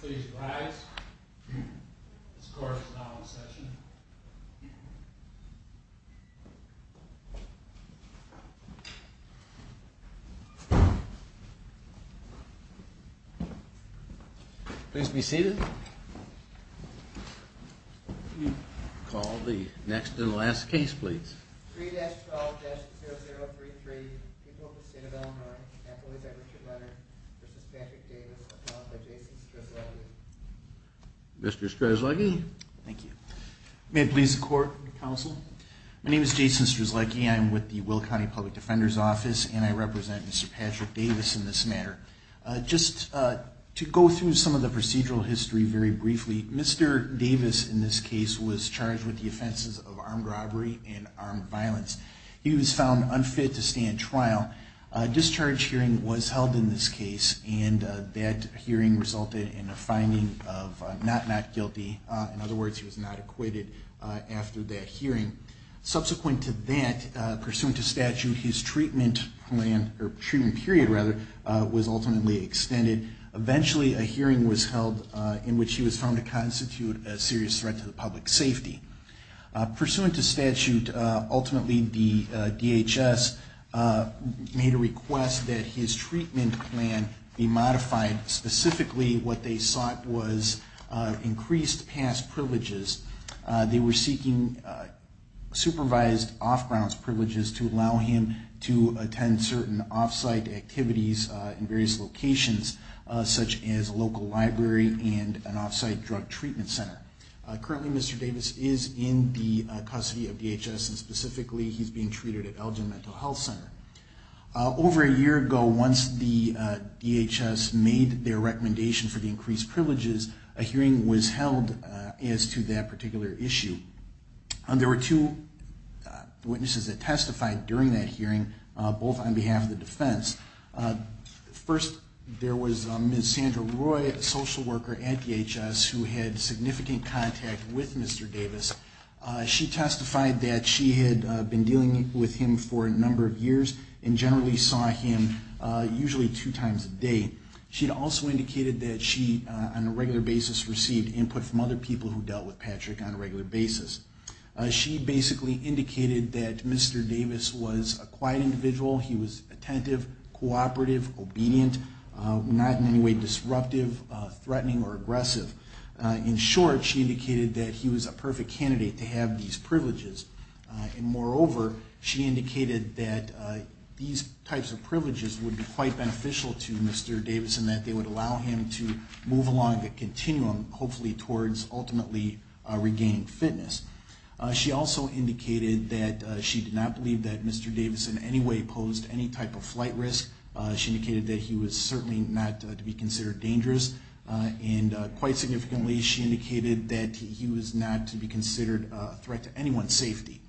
Please rise. This court is now in session. Please be seated. Call the next and last case please. 3-12-0033, People of the State of Illinois, Nathalie's Everett & Leonard v. Patrick Davis, appointed by Jason Strzelecki. Mr. Strzelecki. Thank you. May it please the court and counsel? My name is Jason Strzelecki. I am with the Will County Public Defender's Office and I represent Mr. Patrick Davis in this matter. Just to go through some of the procedural history very briefly, Mr. Davis in this case was charged with the offenses of armed robbery and armed violence. He was found unfit to stand trial. A discharge hearing was held in this case and that hearing resulted in a finding of not not guilty. In other words, he was not acquitted after that hearing. Subsequent to that, pursuant to statute, his treatment period was ultimately extended. Eventually a hearing was held in which he was found to constitute a serious threat to public safety. Pursuant to statute, ultimately the DHS made a request that his treatment plan be modified. Specifically, what they sought was increased past privileges. They were seeking supervised off-grounds privileges to allow him to attend certain off-site activities in various locations, such as a local library and an off-site drug treatment center. Currently, Mr. Davis is in the custody of DHS and specifically he's being treated at Elgin Mental Health Center. Over a year ago, once the DHS made their recommendation for the increased privileges, a hearing was held as to that particular issue. There were two witnesses that testified during that hearing, both on behalf of the defense. First, there was Ms. Sandra Roy, a social worker at DHS who had significant contact with Mr. Davis. She testified that she had been dealing with him for a number of years and generally saw him usually two times a day. She also indicated that she, on a regular basis, received input from other people who dealt with Patrick on a regular basis. She basically indicated that Mr. Davis was a quiet individual. He was attentive, cooperative, obedient, not in any way disruptive, threatening, or aggressive. In short, she indicated that he was a perfect candidate to have these privileges. And moreover, she indicated that these types of privileges would be quite beneficial to Mr. Davis and that they would allow him to move along the continuum, hopefully towards ultimately regaining fitness. She also indicated that she did not believe that Mr. Davis in any way posed any type of flight risk. She indicated that he was certainly not to be considered dangerous. And quite significantly, she indicated that he was not to be considered a threat to anyone's safety.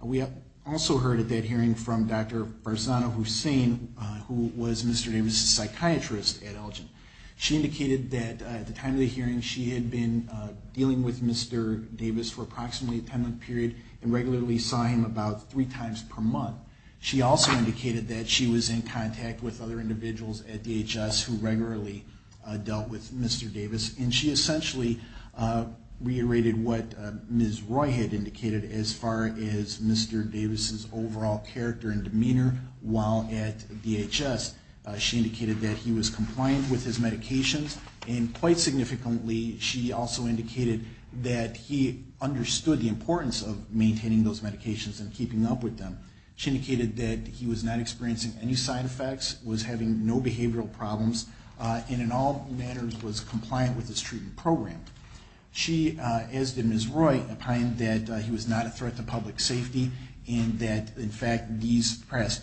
We also heard at that hearing from Dr. Farzana Hussain, who was Mr. Davis' psychiatrist at Elgin. She indicated that at the time of the hearing, she had been dealing with Mr. Davis for approximately a 10-month period and regularly saw him about three times per month. She also indicated that she was in contact with other individuals at DHS who regularly dealt with Mr. Davis. And she essentially reiterated what Ms. Roy had indicated as far as Mr. Davis' overall character and demeanor while at DHS. She indicated that he was compliant with his medications. And quite significantly, she also indicated that he understood the importance of maintaining those medications and keeping up with them. She indicated that he was not experiencing any side effects, was having no behavioral problems, and in all matters was compliant with his treatment program. She, as did Ms. Roy, opined that he was not a threat to public safety and that, in fact, these past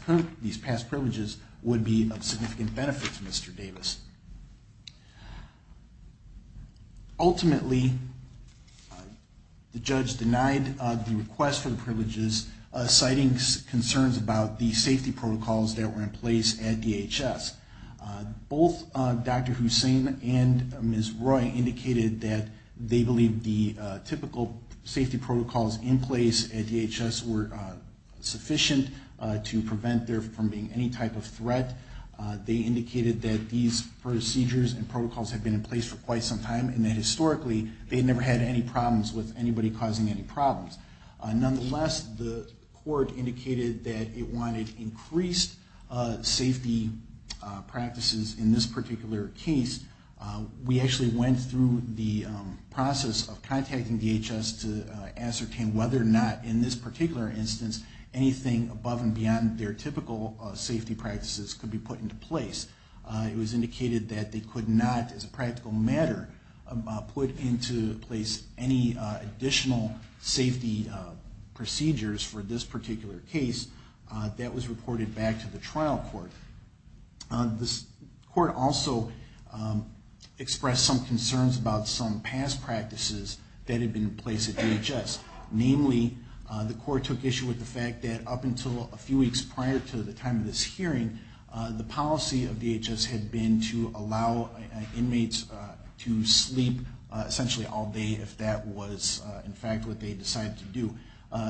privileges would be of significant benefit to Mr. Davis. Ultimately, the judge denied the request for the privileges, citing concerns about the safety protocols that were in place at DHS. Both Dr. Hussain and Ms. Roy indicated that they believed the typical safety protocols in place at DHS were sufficient to prevent there from being any type of threat. They indicated that these procedures and protocols had been in place for quite some time and that, historically, they never had any problems with anybody causing any problems. Nonetheless, the court indicated that it wanted increased safety practices in this particular case. We actually went through the process of contacting DHS to ascertain whether or not, in this particular instance, anything above and beyond their typical safety practices could be put into place. It was indicated that they could not, as a practical matter, put into place any additional safety procedures for this particular case. That was reported back to the trial court. The court also expressed some concerns about some past practices that had been in place at DHS. Namely, the court took issue with the fact that up until a few weeks prior to the time of this hearing, the policy of DHS had been to allow inmates to sleep essentially all day if that was, in fact, what they decided to do.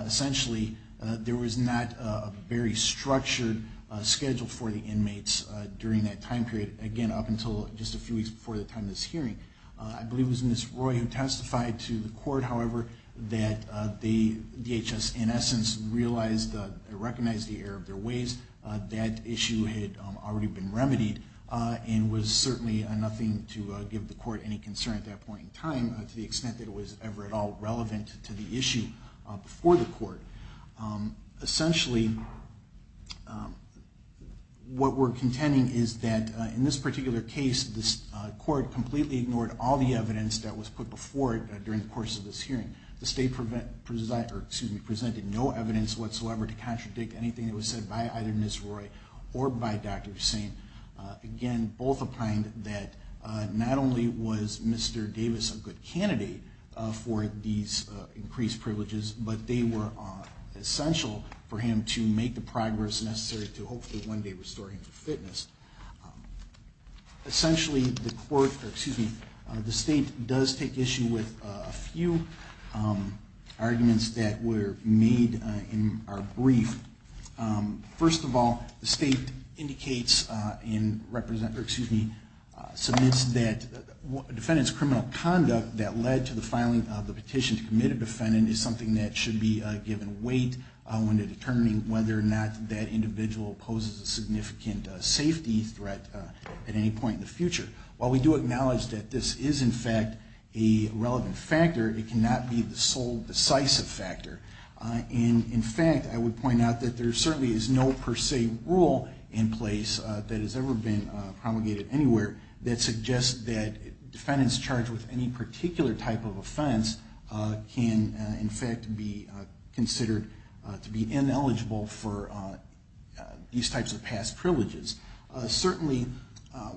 Essentially, there was not a very structured schedule for the inmates during that time period, again, up until just a few weeks before the time of this hearing. I believe it was Ms. Roy who testified to the court, however, that DHS, in essence, recognized the error of their ways. That issue had already been remedied and was certainly nothing to give the court any concern at that point in time, to the extent that it was ever at all relevant to the issue before the court. Essentially, what we're contending is that in this particular case, the court completely ignored all the evidence that was put before it during the course of this hearing. The state presented no evidence whatsoever to contradict anything that was said by either Ms. Roy or by Dr. Hussain. Again, both opined that not only was Mr. Davis a good candidate for these increased privileges, but they were essential for him to make the progress necessary to hopefully one day restore him to fitness. Essentially, the state does take issue with a few arguments that were made in our brief. First of all, the state submits that a defendant's criminal conduct that led to the filing of the petition to commit a defendant is something that should be given weight when determining whether or not that individual poses a significant safety threat at any point in the future. While we do acknowledge that this is, in fact, a relevant factor, it cannot be the sole decisive factor. In fact, I would point out that there certainly is no per se rule in place that has ever been promulgated anywhere that suggests that defendants charged with any particular type of offense can, in fact, be considered to be ineligible for these types of past privileges. Certainly,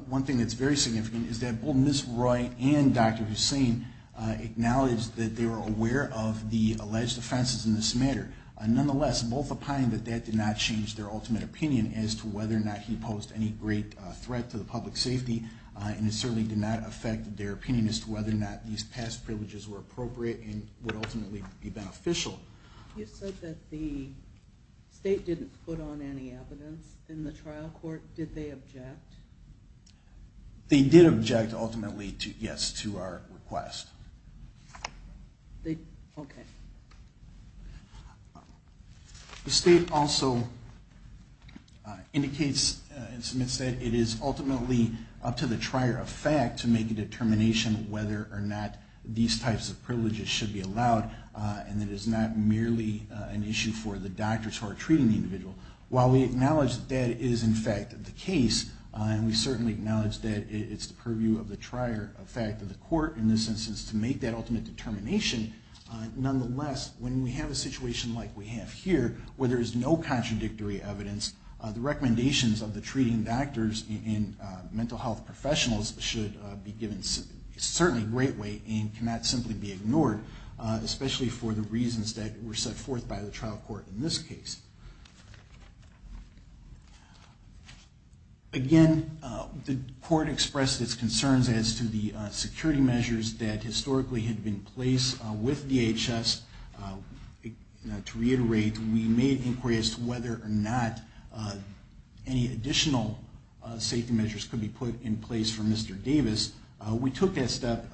one thing that's very significant is that both Ms. Roy and Dr. Hussain acknowledged that they were aware of the alleged offenses in this matter. Nonetheless, both opined that that did not change their ultimate opinion as to whether or not he posed any great threat to the public safety, and it certainly did not affect their opinion as to whether or not these past privileges were appropriate and would ultimately be beneficial. You said that the state didn't put on any evidence in the trial court. Did they object? They did object, ultimately, yes, to our request. Okay. The state also indicates and submits that it is ultimately up to the trier of fact to make a determination whether or not these types of privileges should be allowed, and that it is not merely an issue for the doctors who are treating the individual. While we acknowledge that it is, in fact, the case, and we certainly acknowledge that it's the purview of the trier of fact of the court, in this instance, to make that ultimate determination, nonetheless, when we have a situation like we have here, where there is no contradictory evidence, the recommendations of the treating doctors and mental health professionals should be given certainly great weight and cannot simply be ignored, especially for the reasons that were set forth by the trial court in this case. Again, the court expressed its concerns as to the security measures that historically had been placed with DHS. To reiterate, we made inquiries as to whether or not any additional safety measures could be put in place for Mr. Davis. We took that step,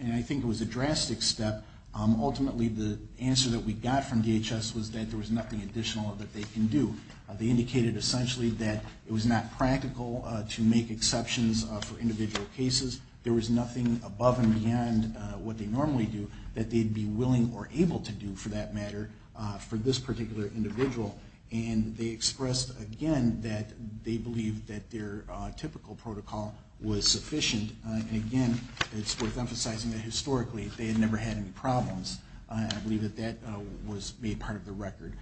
and I think it was a drastic step. Ultimately, the answer that we got from DHS was that there was nothing additional that they can do. They indicated, essentially, that it was not practical to make exceptions for individual cases. There was nothing above and beyond what they normally do that they'd be willing or able to do, for that matter, for this particular individual. And they expressed, again, that they believed that their typical protocol was sufficient. And again, it's worth emphasizing that historically, they had never had any problems, and I believe that that was made part of the record.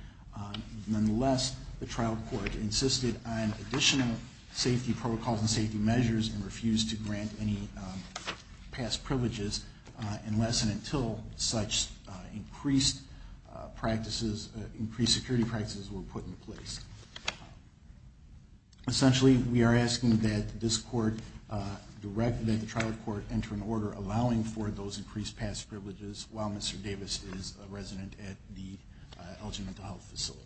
Nonetheless, the trial court insisted on additional safety protocols and safety measures and refused to grant any past privileges, unless and until such increased security practices were put in place. Essentially, we are asking that the trial court enter an order allowing for those increased past privileges while Mr. Davis is a resident at the Elgin Mental Health Facility.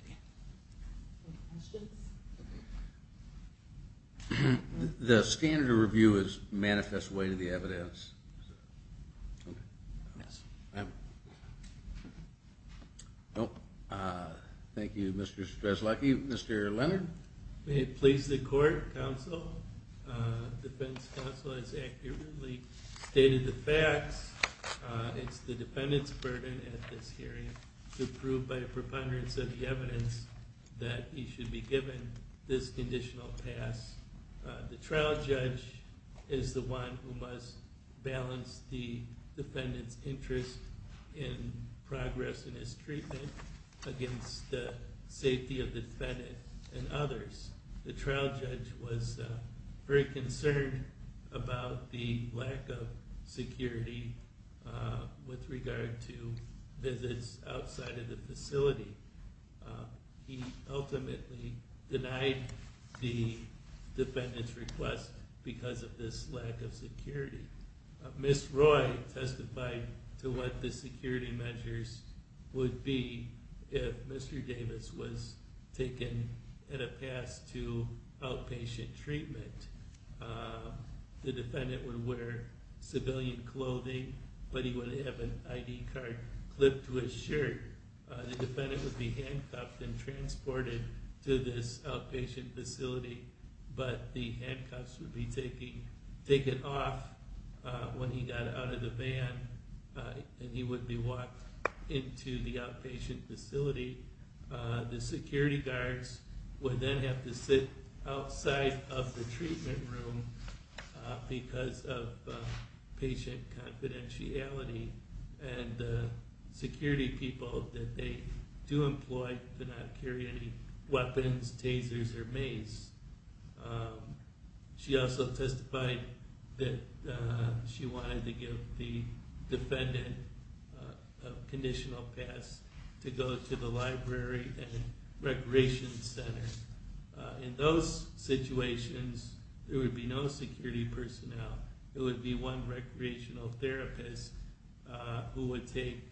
The standard of review is manifest way to the evidence. Thank you, Mr. Strzelecki. Mr. Leonard? May it please the court, counsel. The defense counsel has accurately stated the facts. It's the defendant's burden at this hearing to prove by a preponderance of the evidence that he should be given this conditional pass. The trial judge is the one who must balance the defendant's interest in progress in his treatment against the safety of the defendant and others. The trial judge was very concerned about the lack of security with regard to visits outside of the facility. He ultimately denied the defendant's request because of this lack of security. Ms. Roy testified to what the security measures would be if Mr. Davis was taken in a pass to outpatient treatment. The defendant would wear civilian clothing, but he would have an ID card clipped to his shirt. The defendant would be handcuffed and transported to this outpatient facility, but the handcuffs would be taken off when he got out of the van and he would be walked into the outpatient facility. The security guards would then have to sit outside of the treatment room because of patient confidentiality. The security people that they do employ do not carry any weapons, tasers, or mace. She also testified that she wanted to give the defendant a conditional pass to go to the library and recreation center. In those situations, there would be no security personnel. It would be one recreational therapist who would take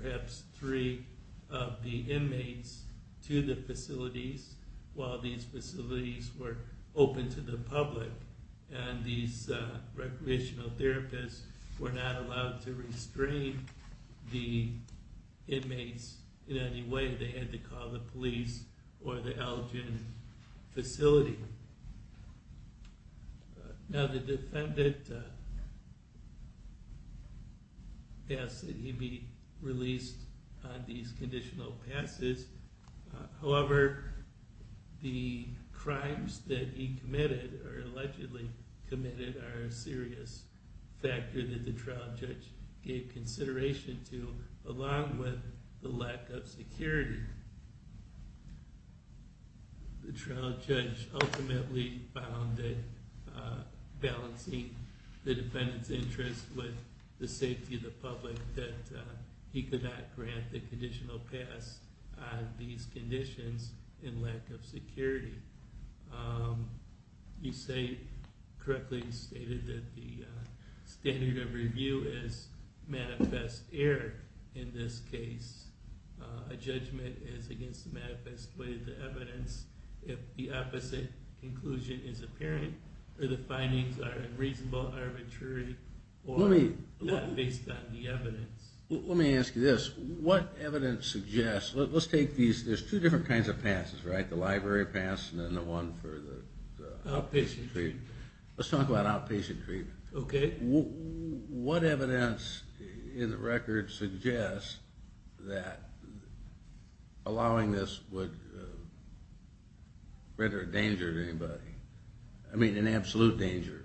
perhaps three of the inmates to the facilities while these facilities were open to the public. These recreational therapists were not allowed to restrain the inmates in any way. They had to call the police or the Elgin facility. Now the defendant asked that he be released on these conditional passes. However, the crimes that he allegedly committed are a serious factor that the trial judge gave consideration to, along with the lack of security. The trial judge ultimately found that balancing the defendant's interest with the safety of the public, that he could not grant the conditional pass on these conditions in lack of security. You correctly stated that the standard of review is manifest error in this case. A judgment is against the manifest way of the evidence if the opposite conclusion is apparent, or the findings are unreasonable, arbitrary, or not based on the evidence. Let me ask you this. There's two different kinds of passes, right? The library pass and the one for the outpatient treatment. Let's talk about outpatient treatment. What evidence in the record suggests that allowing this would render a danger to anybody? I mean an absolute danger.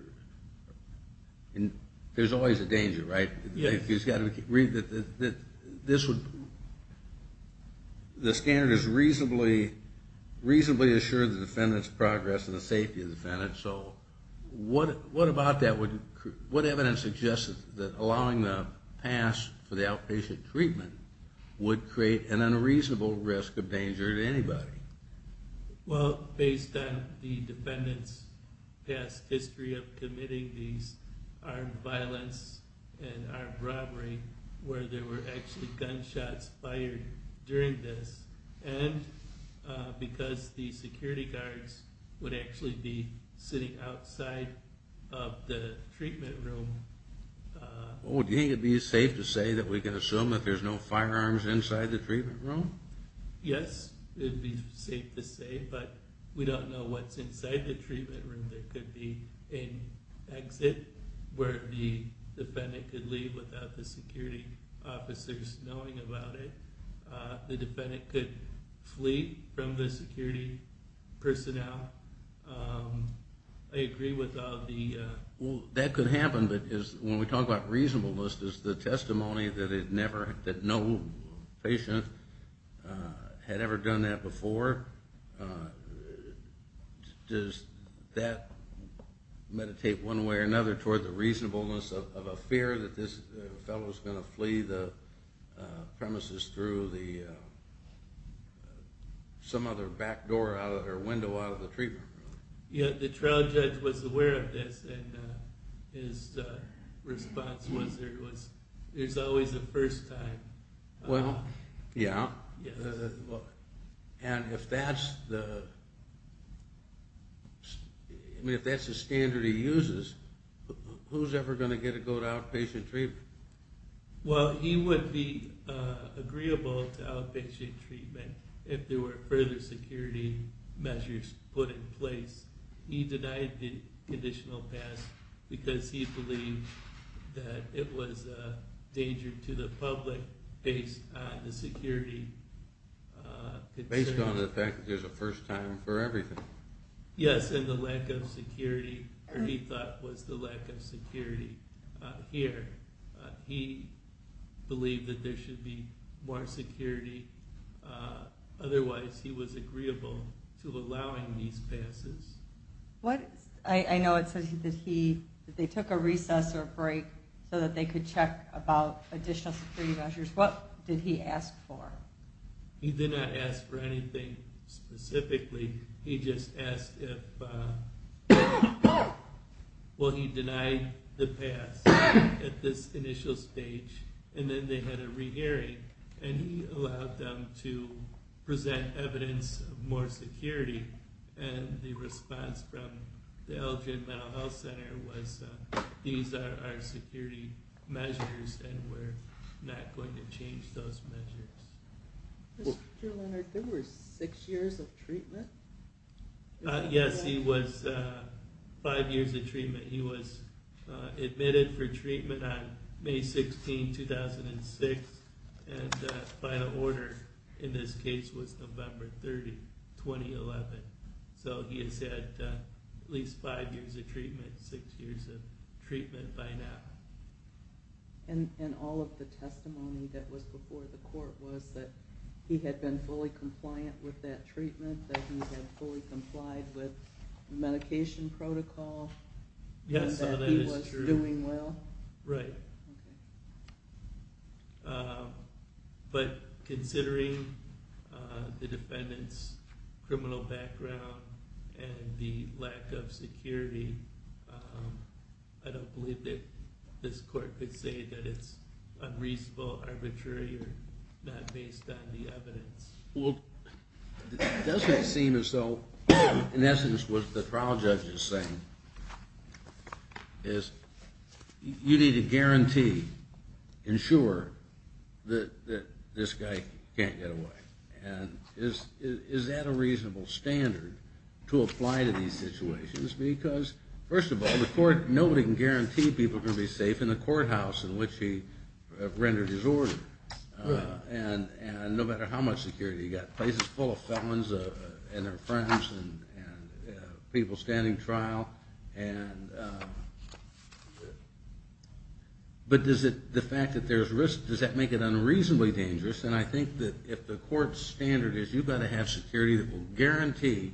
There's always a danger, right? Yes. The standard has reasonably assured the defendant's progress and the safety of the defendant. What evidence suggests that allowing the pass for the outpatient treatment would create an unreasonable risk of danger to anybody? Well, based on the defendant's past history of committing these armed violence and armed robbery, where there were actually gunshots fired during this, and because the security guards would actually be sitting outside of the treatment room. Do you think it would be safe to say that we can assume that there's no firearms inside the treatment room? Yes, it would be safe to say, but we don't know what's inside the treatment room. There could be an exit where the defendant could leave without the security officers knowing about it. The defendant could flee from the security personnel. I agree with all the... That could happen, but when we talk about reasonableness, does the testimony that no patient had ever done that before, does that meditate one way or another toward the reasonableness of a fear that this fellow's going to flee the premises through some other back door or window out of the treatment room? The trial judge was aware of this, and his response was, there's always a first time. And if that's the standard he uses, who's ever going to get to go to outpatient treatment? Well, he would be agreeable to outpatient treatment if there were further security measures put in place. He denied the conditional pass because he believed that it was a danger to the public based on the security... He believed that there should be more security. Otherwise, he was agreeable to allowing these passes. I know it says that they took a recess or a break so that they could check about additional security measures. What did he ask for? He did not ask for anything specifically. He just asked if... Well, he denied the pass at this initial stage, and then they had a re-hearing, and he allowed them to present evidence of more security. And the response from the Elgin Mental Health Center was, these are our security measures, and we're not going to change those measures. Mr. Leonard, there were six years of treatment? Yes, he was five years of treatment. He was admitted for treatment on May 16, 2006. And the final order in this case was November 30, 2011. So he has had at least five years of treatment, six years of treatment by now. And all of the testimony that was before the court was that he had been fully compliant with that treatment, that he had fully complied with the medication protocol, and that he was doing well. But considering the defendant's criminal background and the lack of security, I don't believe that this court could say that it's unreasonable, arbitrary, or not based on the evidence. Well, doesn't it seem as though, in essence, what the trial judge is saying is you need to guarantee, ensure, that this guy can't get away. And is that a reasonable standard to apply to these situations? Because, first of all, nobody can guarantee people are going to be safe in the courthouse in which he rendered his order. And no matter how much security, you've got places full of felons and their friends and people standing trial. But does the fact that there's risk, does that make it unreasonably dangerous? And I think that if the court's standard is you've got to have security that will guarantee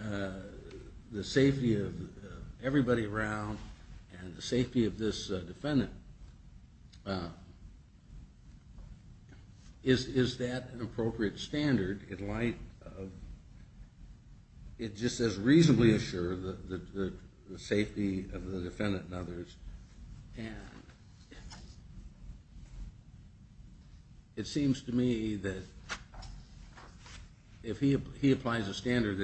the safety of everybody around and the safety of this defendant, is that an appropriate standard in light of, it just says reasonably assure the safety of the defendant and others. And it seems to me that if he applies a standard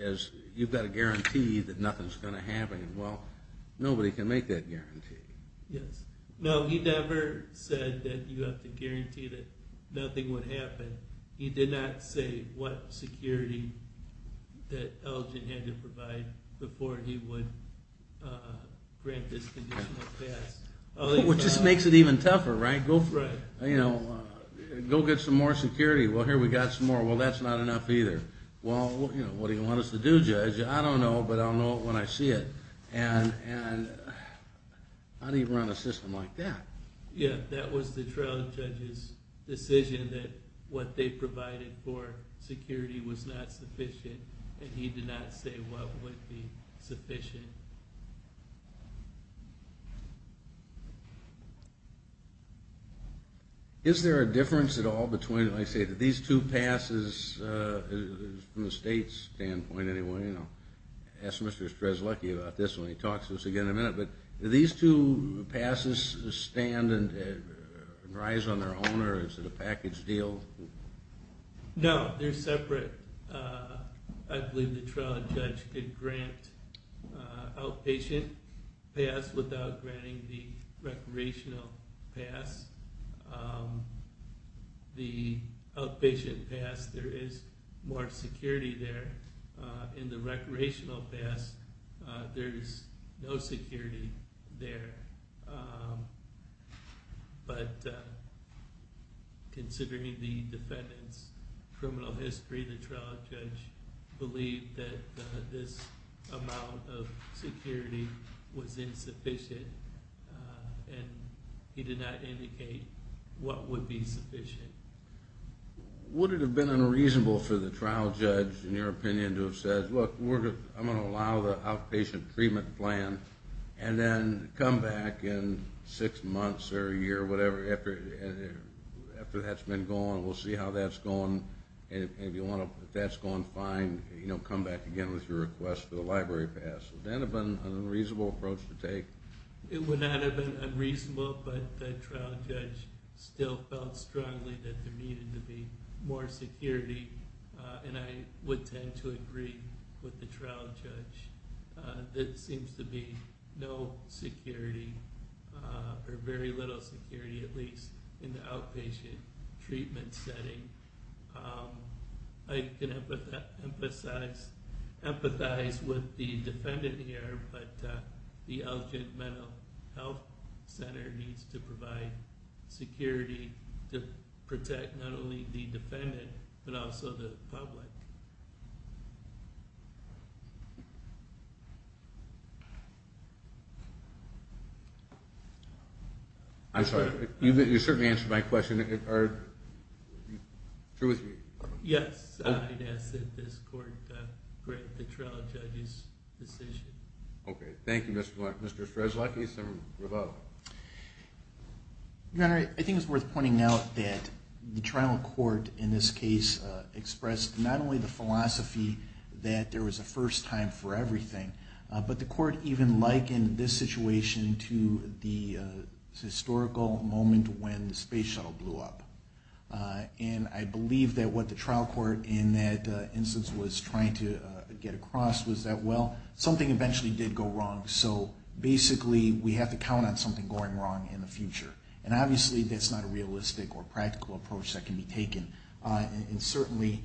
as you've got to guarantee that nothing's going to happen, well, nobody can make that guarantee. No, he never said that you have to guarantee that nothing would happen. He did not say what security that Elgin had to provide before he would grant this conditional pass. Which just makes it even tougher, right? Go get some more security. Well, here we've got some more. Well, that's not enough either. Well, what do you want us to do, Judge? I don't know, but I'll know when I see it. And how do you run a system like that? Yeah, that was the trial judge's decision that what they provided for security was not sufficient. And he did not say what would be sufficient. Is there a difference at all between, like I say, these two passes from the state's standpoint anyway? I'll ask Mr. Strezlecki about this when he talks to us again in a minute. But do these two passes stand and rise on their own, or is it a package deal? No, they're separate. I believe the trial judge could grant outpatient pass without granting the recreational pass. The outpatient pass, there is more security there. In the recreational pass, there is no security there. But considering the defendant's criminal history, the trial judge believed that this amount of security was insufficient, and he did not indicate what would be sufficient. Would it have been unreasonable for the trial judge, in your opinion, to have said, look, I'm going to allow the outpatient treatment plan and then come back in six months or a year or whatever after that's been gone, we'll see how that's gone, and if that's gone fine, come back again with your request for the library pass. Would that have been an unreasonable approach to take? It would not have been unreasonable, but the trial judge still felt strongly that there needed to be more security, and I would tend to agree with the trial judge. There seems to be no security, or very little security, at least in the outpatient treatment setting. I can empathize with the defendant here, but the Elgin Mental Health Center needs to provide security to protect not only the defendant, but also the public. I'm sorry, you certainly answered my question. Yes, I'd ask that this court grant the trial judge's decision. Okay, thank you, Mr. Strezlacki. Your Honor, I think it's worth pointing out that the trial court in this case expressed not only the philosophy that there was a first time for everything, but the court even likened this situation to the historical moment when the space shuttle blew up. And I believe that what the trial court in that instance was trying to get across was that, well, something eventually did go wrong, so basically we have to count on something going wrong in the future. And obviously that's not a realistic or practical approach that can be taken. And certainly,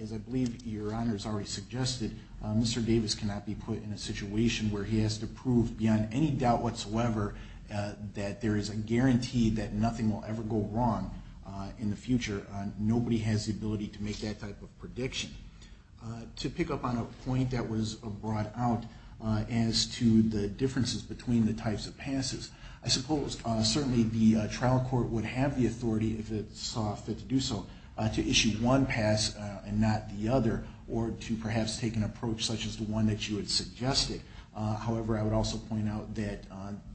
as I believe Your Honor has already suggested, Mr. Davis cannot be put in a situation where he has to prove beyond any doubt whatsoever that there is a guarantee that nothing will ever go wrong in the future. Nobody has the ability to make that type of prediction. To pick up on a point that was brought out as to the differences between the types of passes, I suppose certainly the trial court would have the authority, if it saw fit to do so, to issue one pass and not the other, or to perhaps take an approach such as the one that you had suggested. However, I would also point out that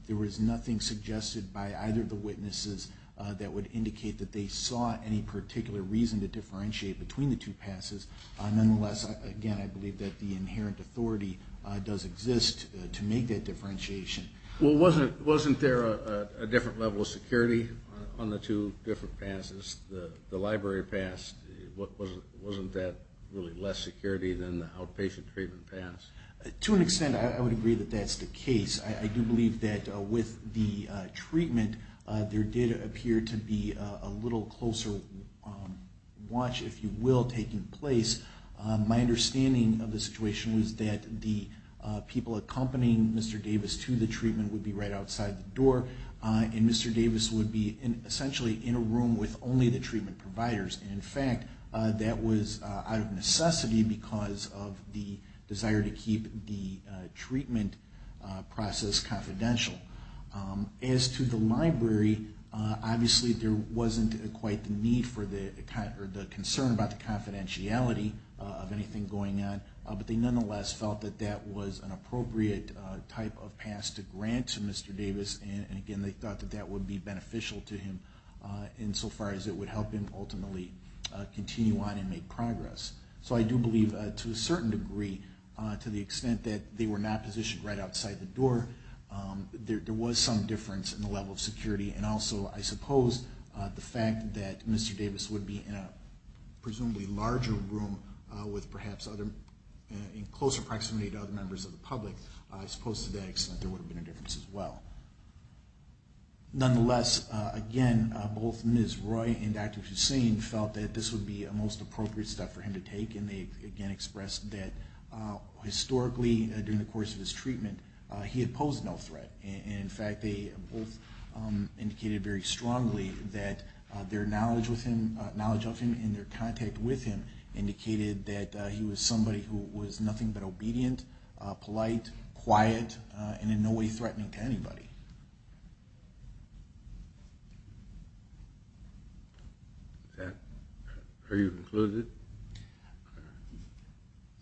there was nothing suggested by either of the witnesses that would indicate that they saw any particular reason to differentiate between the two passes. Nonetheless, again, I believe that the inherent authority does exist to make that differentiation. Well, wasn't there a different level of security on the two different passes? The library pass, wasn't that really less security than the outpatient treatment pass? To an extent, I would agree that that's the case. I do believe that with the treatment, there did appear to be a little closer watch, if you will, taking place. My understanding of the situation was that the people accompanying Mr. Davis to the treatment would be right outside the door, and Mr. Davis would be essentially in a room with only the treatment providers. In fact, that was out of necessity because of the desire to keep the treatment process confidential. As to the library, obviously there wasn't quite the concern about the confidentiality of anything going on, but they nonetheless felt that that was an appropriate type of pass to grant to Mr. Davis, and again, they thought that that would be beneficial to him insofar as it would help him ultimately continue on and make progress. So I do believe, to a certain degree, to the extent that they were not positioned right outside the door, there was some difference in the level of security. And also, I suppose the fact that Mr. Davis would be in a presumably larger room in closer proximity to other members of the public, I suppose to that extent there would have been a difference as well. Nonetheless, again, both Ms. Roy and Dr. Hussain felt that this would be the most appropriate step for him to take, and they again expressed that historically, during the course of his treatment, he had posed no threat. And in fact, they both indicated very strongly that their knowledge of him and their contact with him indicated that he was somebody who was nothing but obedient, polite, quiet, and in no way threatening to anybody. Are you concluded?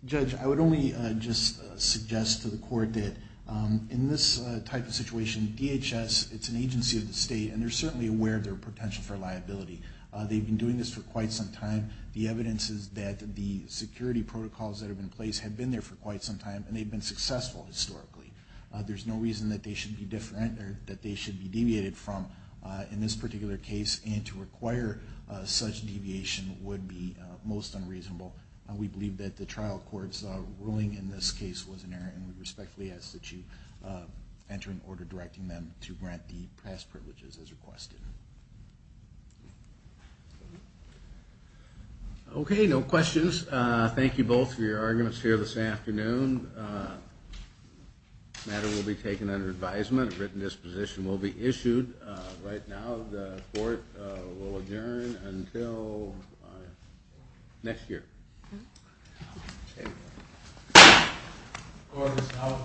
Judge, I would only just suggest to the Court that in this type of situation, DHS, it's an agency of the state, and they're certainly aware of their potential for liability. They've been doing this for quite some time. The evidence is that the security protocols that have been placed have been there for quite some time, and they've been successful historically. There's no reason that they should be deviated from in this particular case, and to require such deviation would be most unreasonable. We believe that the trial court's ruling in this case was inerrant, and we respectfully ask that you enter into order directing them to grant the past privileges as requested. Okay, no questions. Thank you both for your arguments here this afternoon. This matter will be taken under advisement. A written disposition will be issued. Right now, the Court will adjourn until next year. Court is now adjourned.